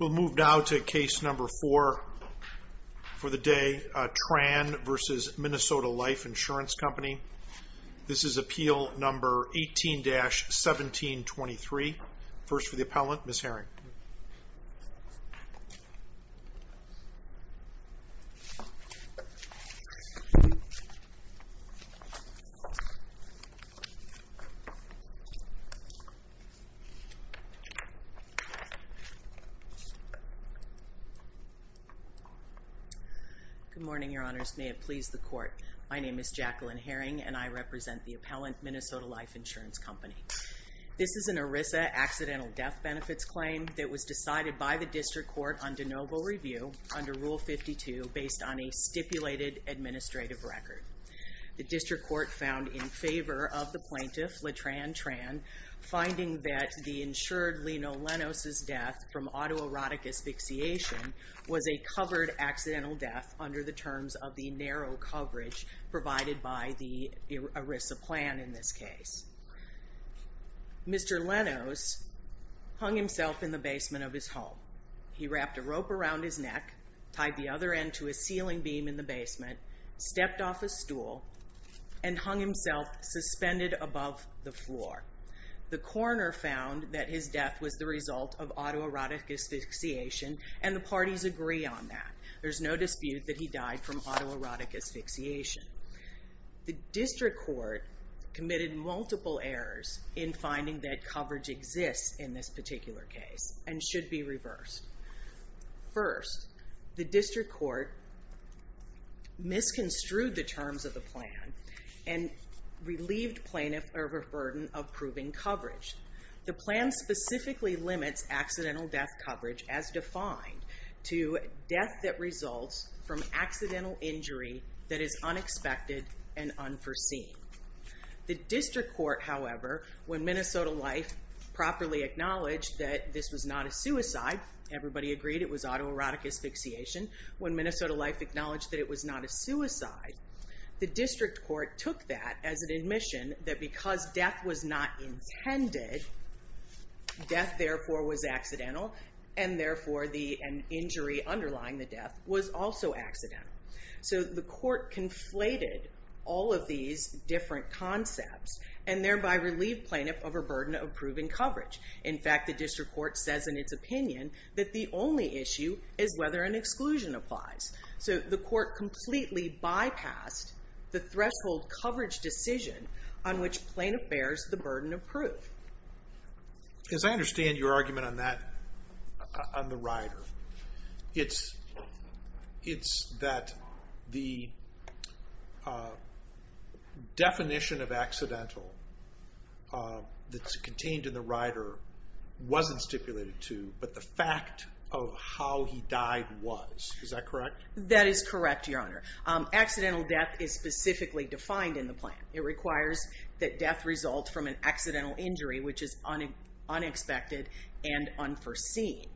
We'll move now to case number four for the day, Tran v. Minnesota Life Insurance Company. This is appeal number 18-1723. First for the appellant, Ms. Herring. Good morning, your honors. May it please the court. My name is Jacqueline Herring and I represent the appellant, Minnesota Life Insurance Company. This is an ERISA accidental death benefits claim that was decided by the district court on de novo review under Rule 52 based on a stipulated administrative record. The district court found in favor of the plaintiff, LeTran Tran, finding that the insured Lino Lenos' death from autoerotic asphyxiation was a covered accidental death under the terms of the narrow coverage provided by the ERISA plan in this case. Mr. Lenos hung himself in the basement of his home. He wrapped a rope around his neck, tied the other end to a ceiling beam in the basement, stepped off a stool, and hung himself suspended above the floor. The coroner found that his death was the result of autoerotic asphyxiation and the parties agree on that. There's no court committed multiple errors in finding that coverage exists in this particular case and should be reversed. First, the district court misconstrued the terms of the plan and relieved plaintiff of a burden of proving coverage. The plan specifically limits accidental death coverage as defined to death that results from accidental injury that is unexpected and unforeseen. The district court, however, when Minnesota Life properly acknowledged that this was not a suicide, everybody agreed it was autoerotic asphyxiation, when Minnesota Life acknowledged that it was not a suicide, the district court took that as an admission that because death was not intended, death, therefore, was accidental, and injury underlying the death was also accidental. So the court conflated all of these different concepts and thereby relieved plaintiff of a burden of proving coverage. In fact, the district court says in its opinion that the only issue is whether an exclusion applies. So the court completely bypassed the threshold coverage decision on which plaintiff bears the burden of proof. As I understand your argument on that, on the rider, it's that the definition of accidental that's contained in the rider wasn't stipulated to, but the fact of how he died was. Is that correct? That is correct, your honor. Accidental death is specifically defined in the plan. It requires that death result from an accidental injury which is unexpected and unforeseen.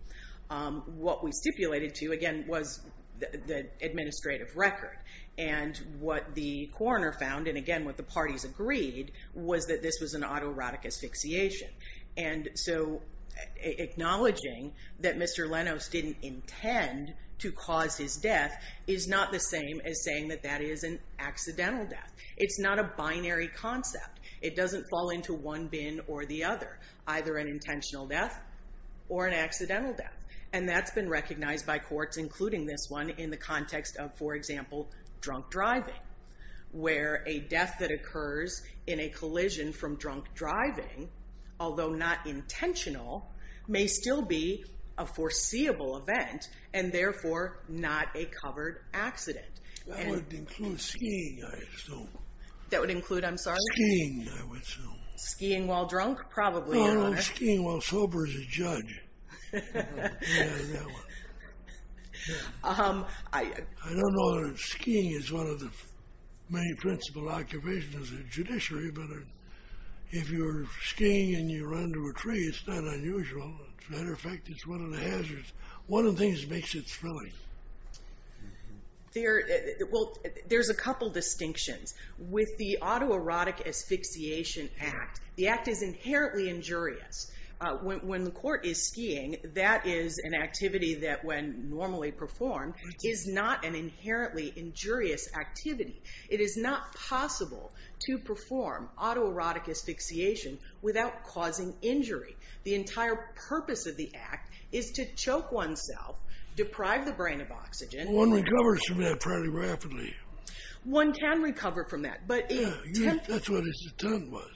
What we stipulated to, again, was the administrative record. And what the coroner found, and again what the parties agreed, was that this was an autoerotic asphyxiation. And so acknowledging that Mr. Lenos didn't intend to cause his death is not the same as saying that that is an accidental death. It's not a binary concept. It doesn't fall into one bin or the other, either an intentional death or an accidental death. And that's been recognized by courts, including this one, in the context of, for example, drunk driving, where a death that was a foreseeable event and therefore not a covered accident. That would include skiing, I assume. That would include, I'm sorry? Skiing, I would assume. Skiing while drunk? Probably, your honor. No, skiing while sober as a judge. Yeah, that one. I don't know if skiing is one of the many principal occupations of the judiciary, but if you're skiing and you run into a tree, it's not unusual. As a matter of fact, it's one of the hazards. One of the things that makes it thrilling. Well, there's a couple distinctions. With the Autoerotic Asphyxiation Act, the act is inherently injurious. When the court is skiing, that is an activity that when normally performed is not an inherently injurious activity. It is not possible to perform autoerotic asphyxiation without causing injury. The entire purpose of the act is to choke oneself, deprive the brain of oxygen. One recovers from that fairly rapidly. One can recover from that. Yeah, that's what his attempt was.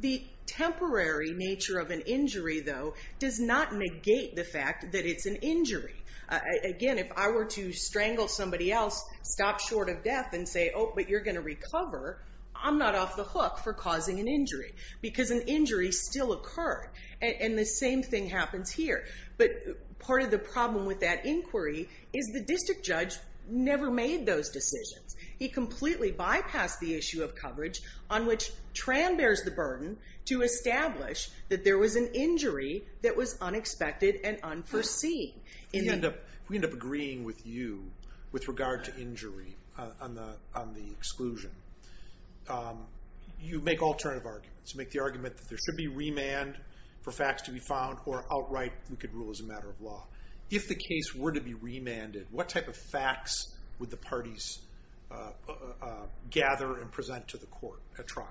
The temporary nature of an injury, though, does not negate the fact that it's an injury. Again, if I were to strangle somebody else, stop short of death, and say, oh, but you're going to recover, I'm not off the hook for causing an injury. Because an injury still occurred. And the same thing happens here. But part of the problem with that inquiry is the district judge never made those decisions. He completely bypassed the issue of coverage on which Tran bears the burden to establish that there was an injury that was unexpected and unforeseen. If we end up agreeing with you with regard to injury on the exclusion, you make alternative arguments. You make the argument that there should be remand for facts to be found or outright we could rule as a matter of law. If the case were to be remanded, what type of facts would the parties gather and present to the court at trial?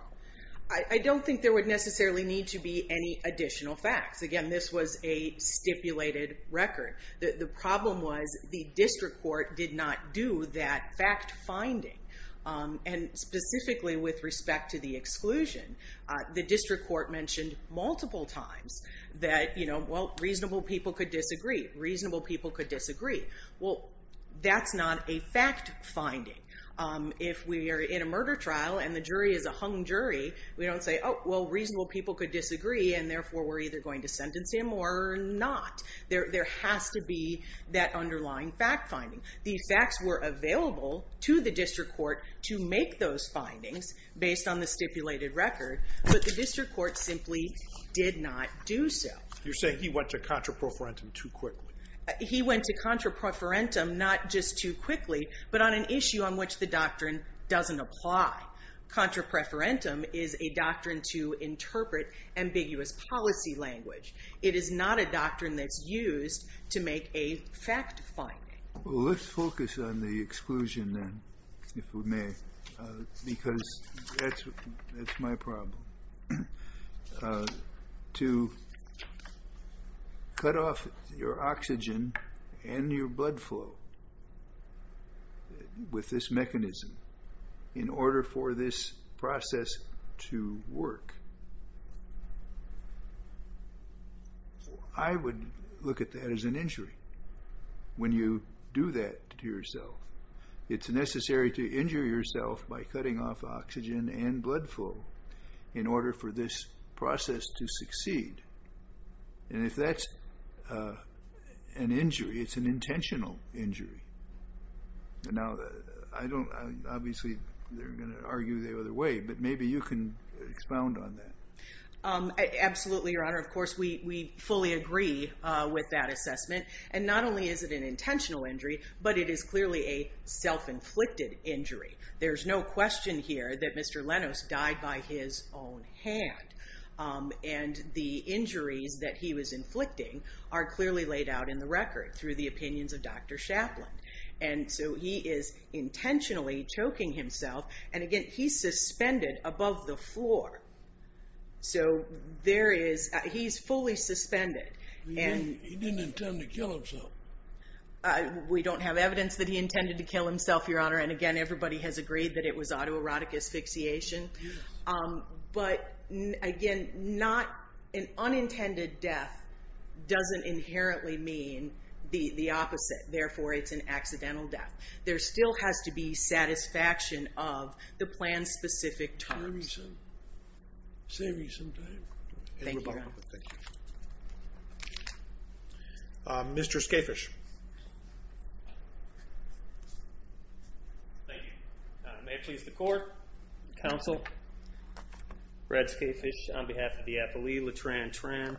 I don't think there would necessarily need to be any additional facts. Again, this was a stipulated record. The problem was the district court did not do that fact finding. And specifically with respect to the exclusion, the district court mentioned multiple times that reasonable people could disagree. Reasonable people could disagree. Well, that's not a fact finding. If we are in a murder trial and the jury is a hung jury, we don't say, oh, well, reasonable people could disagree, and therefore we're either going to sentence him or not. There has to be that underlying fact finding. The facts were available to the district court to make those findings based on the stipulated record, but the district court simply did not do so. You're saying he went to contra preferentum too quickly. He went to contra preferentum not just too quickly, but on an issue on which the doctrine doesn't apply. Contra preferentum is a doctrine to interpret ambiguous policy language. It is not a doctrine that's used to make a fact finding. Well, let's focus on the exclusion then, if we may, because that's my problem. To cut off your oxygen and your blood flow with this mechanism in order for this process to work, I would look at that as an injury. When you do that to yourself, it's necessary to injure yourself by cutting off oxygen and blood flow in order for this process to succeed. And if that's an injury, it's an intentional injury. Now, obviously, they're going to argue the other way, but maybe you can expound on that. Absolutely, Your Honor. Of course, we fully agree with that assessment. And not only is it an intentional injury, but it is clearly a self-inflicted injury. There's no question here that Mr. Lenos died by his own hand. And the injuries that he was inflicting are clearly laid out in the record through the opinions of Dr. Chaplin. And so he is intentionally choking himself. And again, he's suspended above the floor. So he's fully suspended. He didn't intend to kill himself. We don't have evidence that he intended to kill himself, Your Honor. And again, everybody has agreed that it was autoerotic asphyxiation. But again, an unintended death doesn't inherently mean the opposite. Therefore, it's an accidental death. There still has to be satisfaction of the plan-specific time. Thank you, Your Honor. Mr. Skafish. Thank you. May it please the Court, Counsel, Brad Skafish, on behalf of the appellee, LeTran Tran.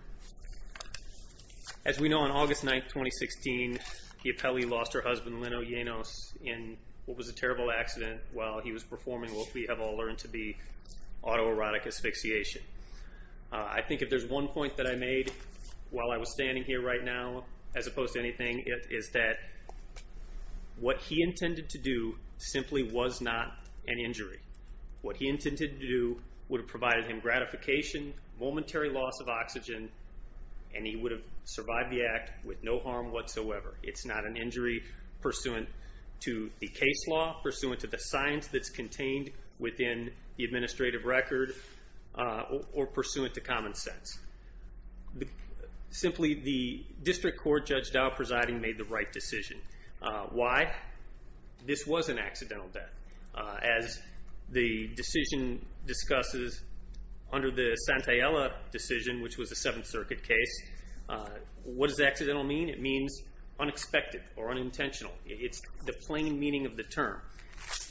As we know, on August 9, 2016, Giappelli lost her husband, Leno Lenos, in what was a terrible accident while he was performing what we have all learned to be autoerotic asphyxiation. I think if there's one point that I made while I was standing here right now, as opposed to anything, it is that what he intended to do simply was not an injury. What he intended to do would have provided him gratification, momentary loss of oxygen, and he would have survived the act with no harm whatsoever. It's not an injury pursuant to the case law, pursuant to the science that's contained within the administrative record, or pursuant to common sense. Simply, the district court Judge Dow presiding made the right decision. Why? This was an accidental death. As the decision discusses under the Santayella decision, which was a Seventh Circuit case, what does accidental mean? It means unexpected or unintentional. It's the plain meaning of the term.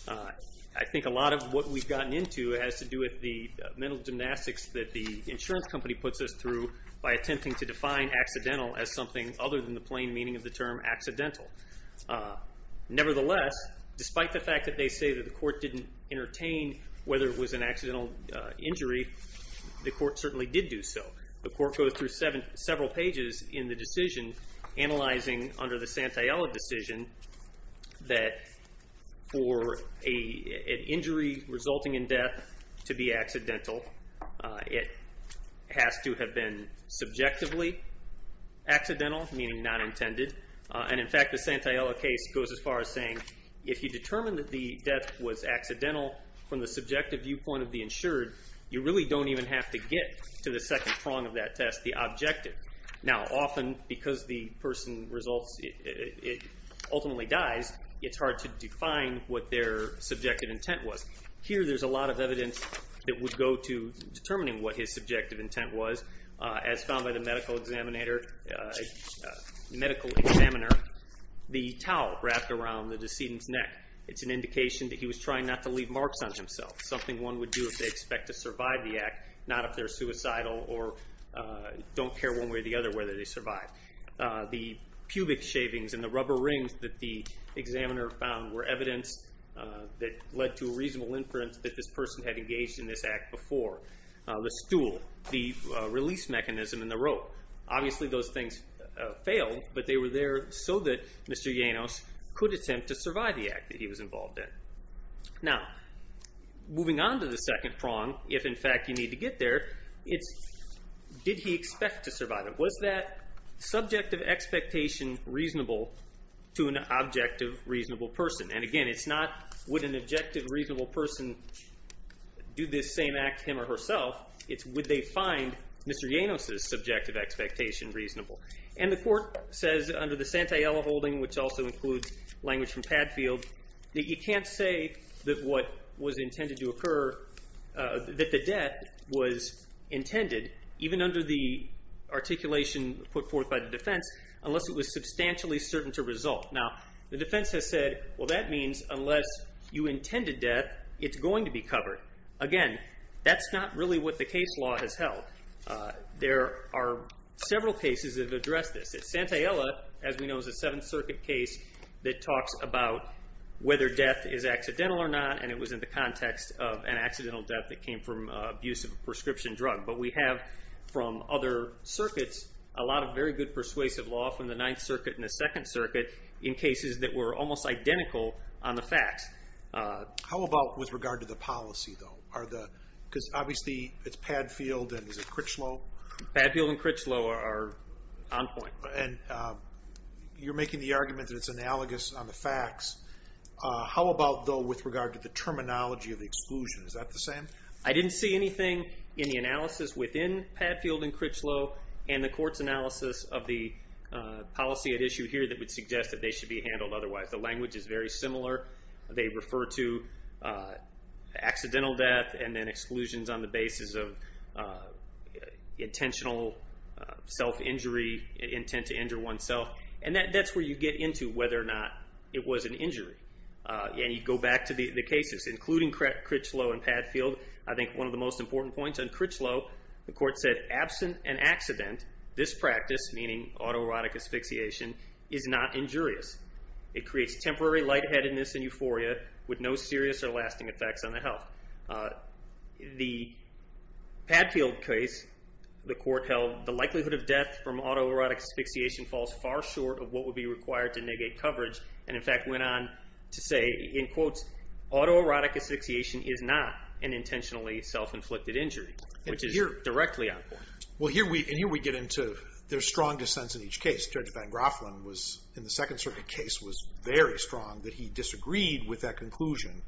I think a lot of what we've gotten into has to do with the mental gymnastics that the insurance company puts us through by attempting to define accidental as something other than the plain meaning of the term accidental. Nevertheless, despite the fact that they say that the court didn't entertain whether it was an accidental injury, the court certainly did do so. The court goes through several pages in the decision analyzing under the Santayella decision that for an injury resulting in death to be accidental, it has to have been subjectively accidental, meaning not intended. In fact, the Santayella case goes as far as saying if you determine that the death was accidental from the subjective viewpoint of the insured, you really don't even have to get to the second prong of that test, the objective. Now, often because the person ultimately dies, it's hard to define what their subjective intent was. Here, there's a lot of evidence that would go to determining what his subjective intent was. As found by the medical examiner, the towel wrapped around the decedent's neck. It's an indication that he was trying not to leave marks on himself, something one would do if they expect to survive the act, not if they're suicidal or don't care one way or the other whether they survive. The pubic shavings and the rubber rings that the examiner found were evidence that led to a reasonable inference that this person had engaged in this act before. The stool, the release mechanism, and the rope. Obviously, those things failed, but they were there so that Mr. Llanos could attempt to survive the act that he was involved in. Now, moving on to the second prong, if in fact you need to get there, it's did he expect to survive it? Was that subjective expectation reasonable to an objective, reasonable person? Again, it's not would an objective, reasonable person do this same act to him or herself. It's would they find Mr. Llanos' subjective expectation reasonable. And the court says under the Santayella holding, which also includes language from Padfield, that you can't say that what was intended to occur, that the death was intended, even under the articulation put forth by the defense, unless it was substantially certain to result. Now, the defense has said, well, that means unless you intended death, it's going to be covered. Again, that's not really what the case law has held. There are several cases that have addressed this. Santayella, as we know, is a Seventh Circuit case that talks about whether death is accidental or not, and it was in the context of an accidental death that came from abuse of a prescription drug. But we have from other circuits a lot of very good persuasive law from the Ninth Circuit and the Second Circuit in cases that were almost identical on the facts. How about with regard to the policy, though? Because obviously it's Padfield and Critchlow. Padfield and Critchlow are on point. And you're making the argument that it's analogous on the facts. How about, though, with regard to the terminology of the exclusion? Is that the same? I didn't see anything in the analysis within Padfield and Critchlow and the court's analysis of the policy at issue here that would suggest that they should be handled otherwise. The language is very similar. They refer to accidental death and then exclusions on the basis of intentional self-injury, intent to injure oneself. And that's where you get into whether or not it was an injury. And you go back to the cases, including Critchlow and Padfield. I think one of the most important points on Critchlow, the court said, absent an accident, this practice, meaning autoerotic asphyxiation, is not injurious. It creates temporary lightheadedness and euphoria with no serious or lasting effects on the health. The Padfield case, the court held the likelihood of death from autoerotic asphyxiation falls far short of what would be required to negate coverage, and in fact went on to say, in quotes, Well, and here we get into their strong dissents in each case. Judge Van Graafelen, in the Second Circuit case, was very strong that he disagreed with that conclusion.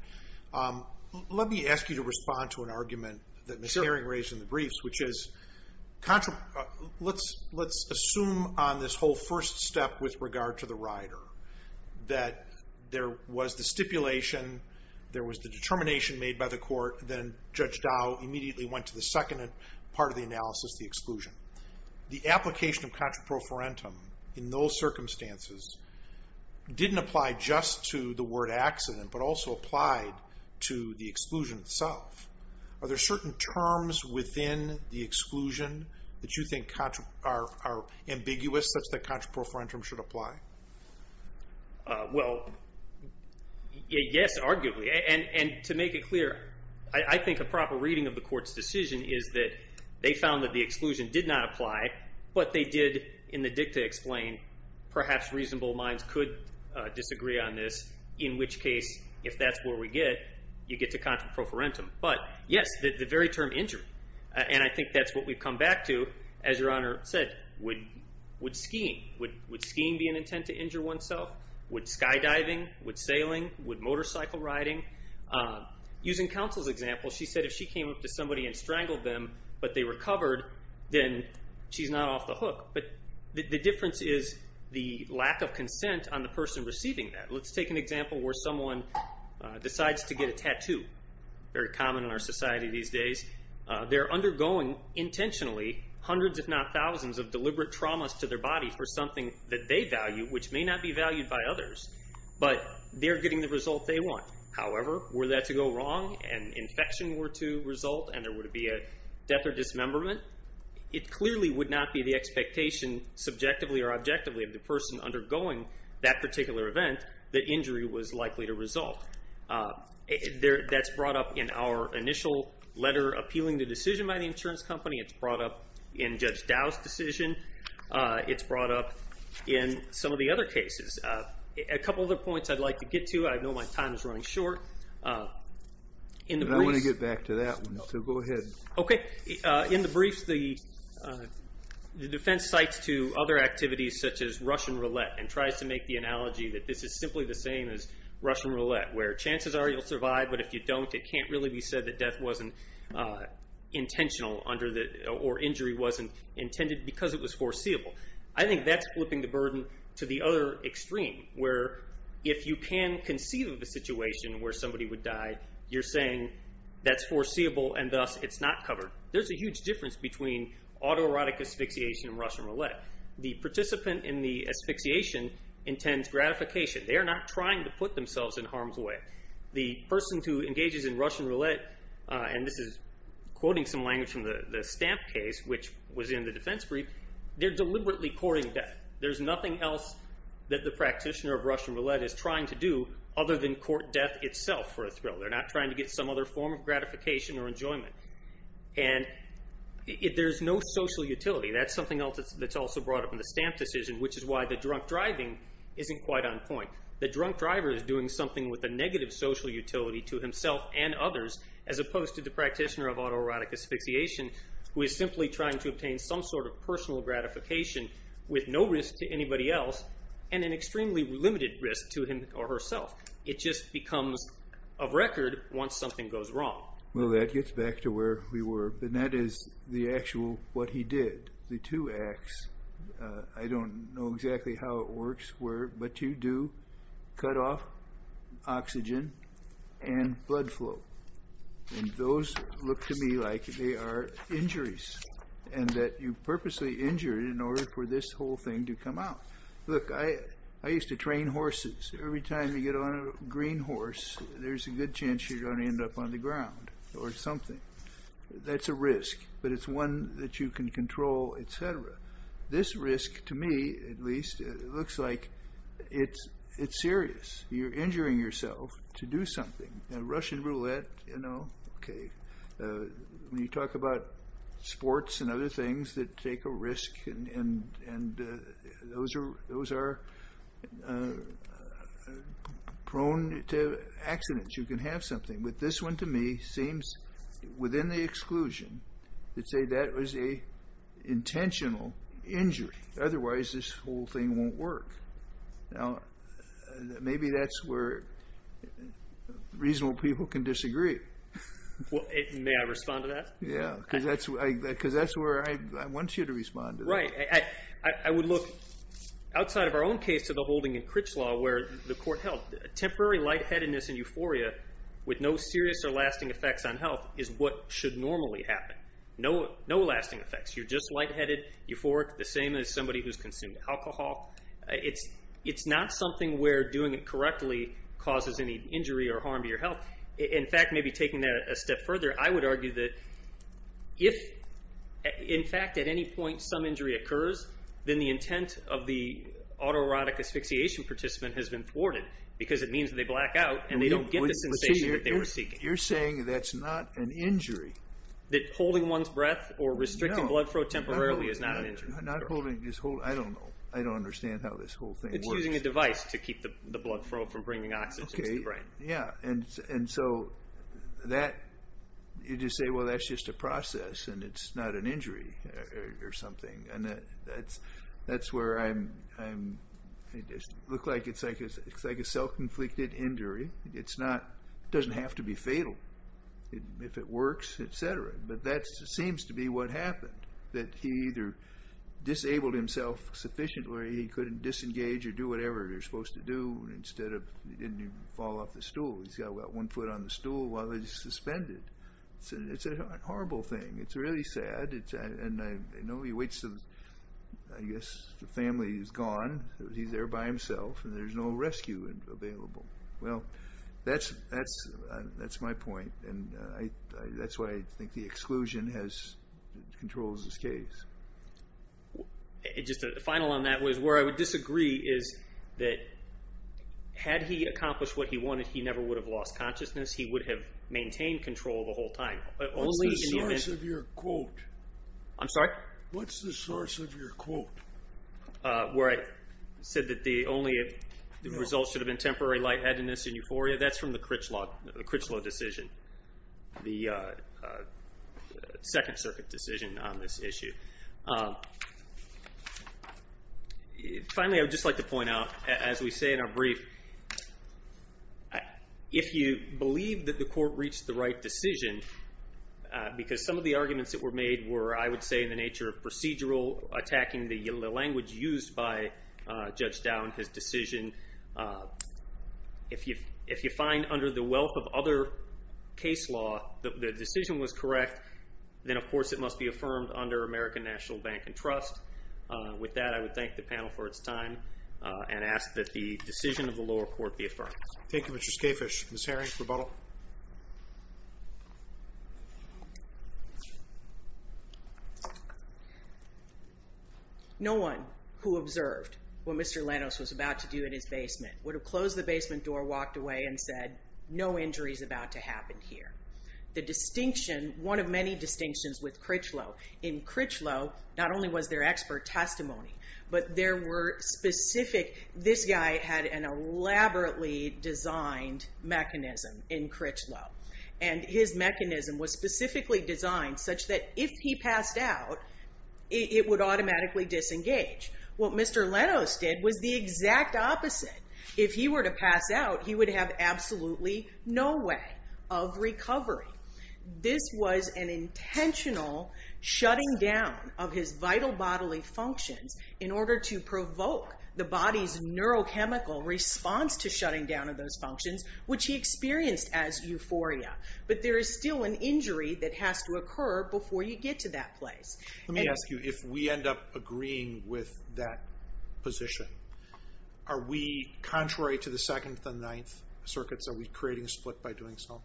Let me ask you to respond to an argument that Ms. Haring raised in the briefs, which is, let's assume on this whole first step with regard to the rider, that there was the stipulation, there was the determination made by the court, then Judge Dow immediately went to the second part of the analysis, the exclusion. The application of contraprofarentum in those circumstances didn't apply just to the word accident, but also applied to the exclusion itself. Are there certain terms within the exclusion that you think are ambiguous, such that contraprofarentum should apply? Well, yes, arguably, and to make it clear, I think a proper reading of the court's decision is that they found that the exclusion did not apply, but they did in the dicta explain, perhaps reasonable minds could disagree on this, in which case, if that's where we get, you get to contraprofarentum. But yes, the very term injury, and I think that's what we've come back to, as Your Honor said, would skiing be an intent to injure oneself? Would skydiving, would sailing, would motorcycle riding? Using counsel's example, she said if she came up to somebody and strangled them, but they recovered, then she's not off the hook. But the difference is the lack of consent on the person receiving that. Let's take an example where someone decides to get a tattoo. Very common in our society these days. They're undergoing intentionally hundreds, if not thousands, of deliberate traumas to their body for something that they value, which may not be valued by others, but they're getting the result they want. However, were that to go wrong and infection were to result and there were to be a death or dismemberment, it clearly would not be the expectation subjectively or objectively of the person undergoing that particular event that injury was likely to result. That's brought up in our initial letter appealing the decision by the insurance company. It's brought up in Judge Dow's decision. It's brought up in some of the other cases. A couple other points I'd like to get to. I know my time is running short. I want to get back to that one, so go ahead. In the briefs, the defense cites to other activities such as Russian roulette and tries to make the analogy that this is simply the same as Russian roulette, where chances are you'll survive, but if you don't, it can't really be said that death wasn't intentional or injury wasn't intended because it was foreseeable. I think that's flipping the burden to the other extreme, where if you can conceive of a situation where somebody would die, you're saying that's foreseeable and thus it's not covered. There's a huge difference between autoerotic asphyxiation and Russian roulette. The participant in the asphyxiation intends gratification. They are not trying to put themselves in harm's way. The person who engages in Russian roulette, and this is quoting some language from the Stamp case, which was in the defense brief, they're deliberately courting death. There's nothing else that the practitioner of Russian roulette is trying to do other than court death itself for a thrill. They're not trying to get some other form of gratification or enjoyment. There's no social utility. That's something else that's also brought up in the Stamp decision, which is why the drunk driving isn't quite on point. The drunk driver is doing something with a negative social utility to himself and others as opposed to the practitioner of autoerotic asphyxiation who is simply trying to obtain some sort of personal gratification with no risk to anybody else and an extremely limited risk to him or herself. It just becomes of record once something goes wrong. Well, that gets back to where we were, and that is the actual what he did. The two acts, I don't know exactly how it works, but you do cut off oxygen and blood flow. Those look to me like they are injuries and that you purposely injure it in order for this whole thing to come out. Look, I used to train horses. Every time you get on a green horse, there's a good chance you're going to end up on the ground or something. That's a risk, but it's one that you can control, etc. This risk, to me at least, looks like it's serious. You're injuring yourself to do something. A Russian roulette, you know, okay. When you talk about sports and other things that take a risk, those are prone to accidents. You can have something, but this one to me seems within the exclusion to say that was an intentional injury. Otherwise, this whole thing won't work. Now, maybe that's where reasonable people can disagree. Well, may I respond to that? Yeah, because that's where I want you to respond to that. Right. I would look outside of our own case to the holding in Critchlaw where the court held temporary lightheadedness and euphoria with no serious or lasting effects on health is what should normally happen. No lasting effects. You're just lightheaded, euphoric, the same as somebody who's consumed alcohol. It's not something where doing it correctly causes any injury or harm to your health. In fact, maybe taking that a step further, I would argue that if, in fact, at any point some injury occurs, then the intent of the autoerotic asphyxiation participant has been thwarted because it means they black out and they don't get the sensation that they were seeking. You're saying that's not an injury. That holding one's breath or restricting blood flow temporarily is not an injury. Not holding, I don't know. I don't understand how this whole thing works. It's using a device to keep the blood flow from bringing oxygen to the brain. Yeah, and so you just say, well, that's just a process and it's not an injury or something. And that's where I'm, it looks like it's like a self-inflicted injury. It's not, it doesn't have to be fatal if it works, et cetera. But that seems to be what happened, that he either disabled himself sufficiently or he couldn't disengage or do whatever he was supposed to do instead of, he didn't even fall off the stool. He's got about one foot on the stool while he's suspended. It's a horrible thing. It's really sad. And I know he waits until, I guess, the family is gone. He's there by himself and there's no rescue available. Well, that's my point. And that's why I think the exclusion controls his case. Just a final on that was where I would disagree is that had he accomplished what he wanted, he never would have lost consciousness. He would have maintained control the whole time. What's the source of your quote? I'm sorry? What's the source of your quote? Where I said that the only results should have been temporary lightheadedness and euphoria, that's from the Critchlow decision, the Second Circuit decision on this issue. Finally, I would just like to point out, as we say in our brief, if you believe that the court reached the right decision, because some of the arguments that were made were, I would say, in the nature of procedural, attacking the language used by Judge Down, his decision, if you find under the wealth of other case law that the decision was correct, then, of course, it must be affirmed under American National Bank and Trust. With that, I would thank the panel for its time and ask that the decision of the lower court be affirmed. Thank you, Mr. Skafish. Ms. Herring, rebuttal. No one who observed what Mr. Lanos was about to do in his basement would have closed the basement door, walked away, and said, no injury is about to happen here. The distinction, one of many distinctions with Critchlow, in Critchlow, not only was there expert testimony, but there were specific, this guy had an elaborately designed mechanism in Critchlow, and his mechanism was specifically designed such that if he passed out, it would automatically disengage. What Mr. Lanos did was the exact opposite. If he were to pass out, he would have absolutely no way of recovery. This was an intentional shutting down of his vital bodily functions in order to provoke the body's neurochemical response to shutting down of those functions, which he experienced as euphoria. But there is still an injury that has to occur before you get to that place. Let me ask you, if we end up agreeing with that position, are we contrary to the Second and Ninth Circuits? Are we creating a split by doing so?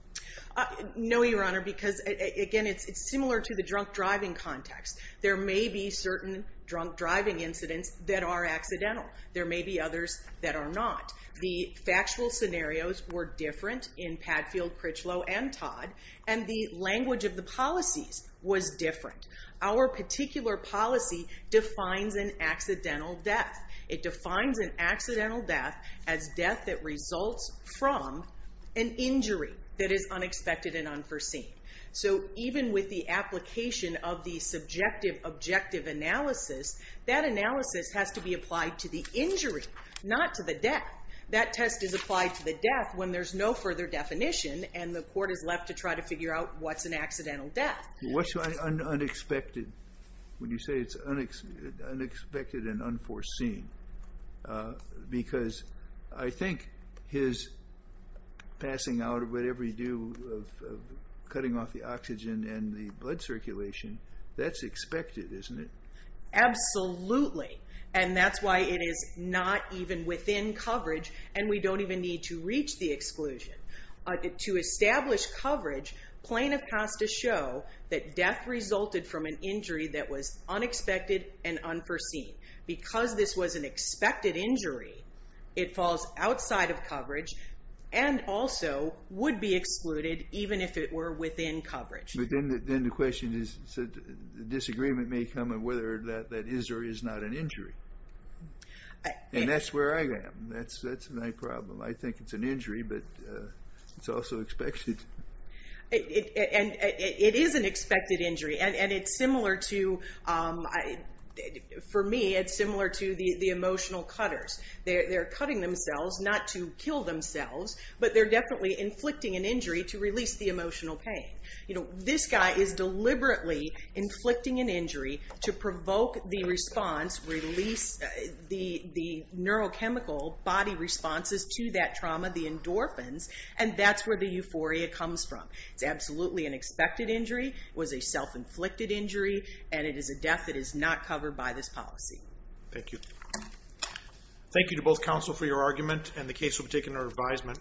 No, Your Honor, because, again, it's similar to the drunk driving context. There may be certain drunk driving incidents that are accidental. There may be others that are not. The factual scenarios were different in Padfield, Critchlow, and Todd, and the language of the policies was different. Our particular policy defines an accidental death. It defines an accidental death as death that results from an injury that is unexpected and unforeseen. So even with the application of the subjective objective analysis, that analysis has to be applied to the injury, not to the death. That test is applied to the death when there's no further definition and the court is left to try to figure out what's an accidental death. What's unexpected when you say it's unexpected and unforeseen? Because I think his passing out or whatever he do of cutting off the oxygen and the blood circulation, that's expected, isn't it? Absolutely, and that's why it is not even within coverage and we don't even need to reach the exclusion. To establish coverage, plaintiff has to show that death resulted from an injury that was unexpected and unforeseen. Because this was an expected injury, it falls outside of coverage and also would be excluded even if it were within coverage. But then the question is, disagreement may come of whether that is or is not an injury, and that's where I am. That's my problem. I think it's an injury, but it's also expected. It is an expected injury, and it's similar to, for me, it's similar to the emotional cutters. They're cutting themselves not to kill themselves, but they're definitely inflicting an injury to release the emotional pain. This guy is deliberately inflicting an injury to provoke the response, release the neurochemical body responses to that trauma, the endorphins, and that's where the euphoria comes from. It's absolutely an expected injury, it was a self-inflicted injury, and it is a death that is not covered by this policy. Thank you. Thank you to both counsel for your argument, and the case will be taken under advisement.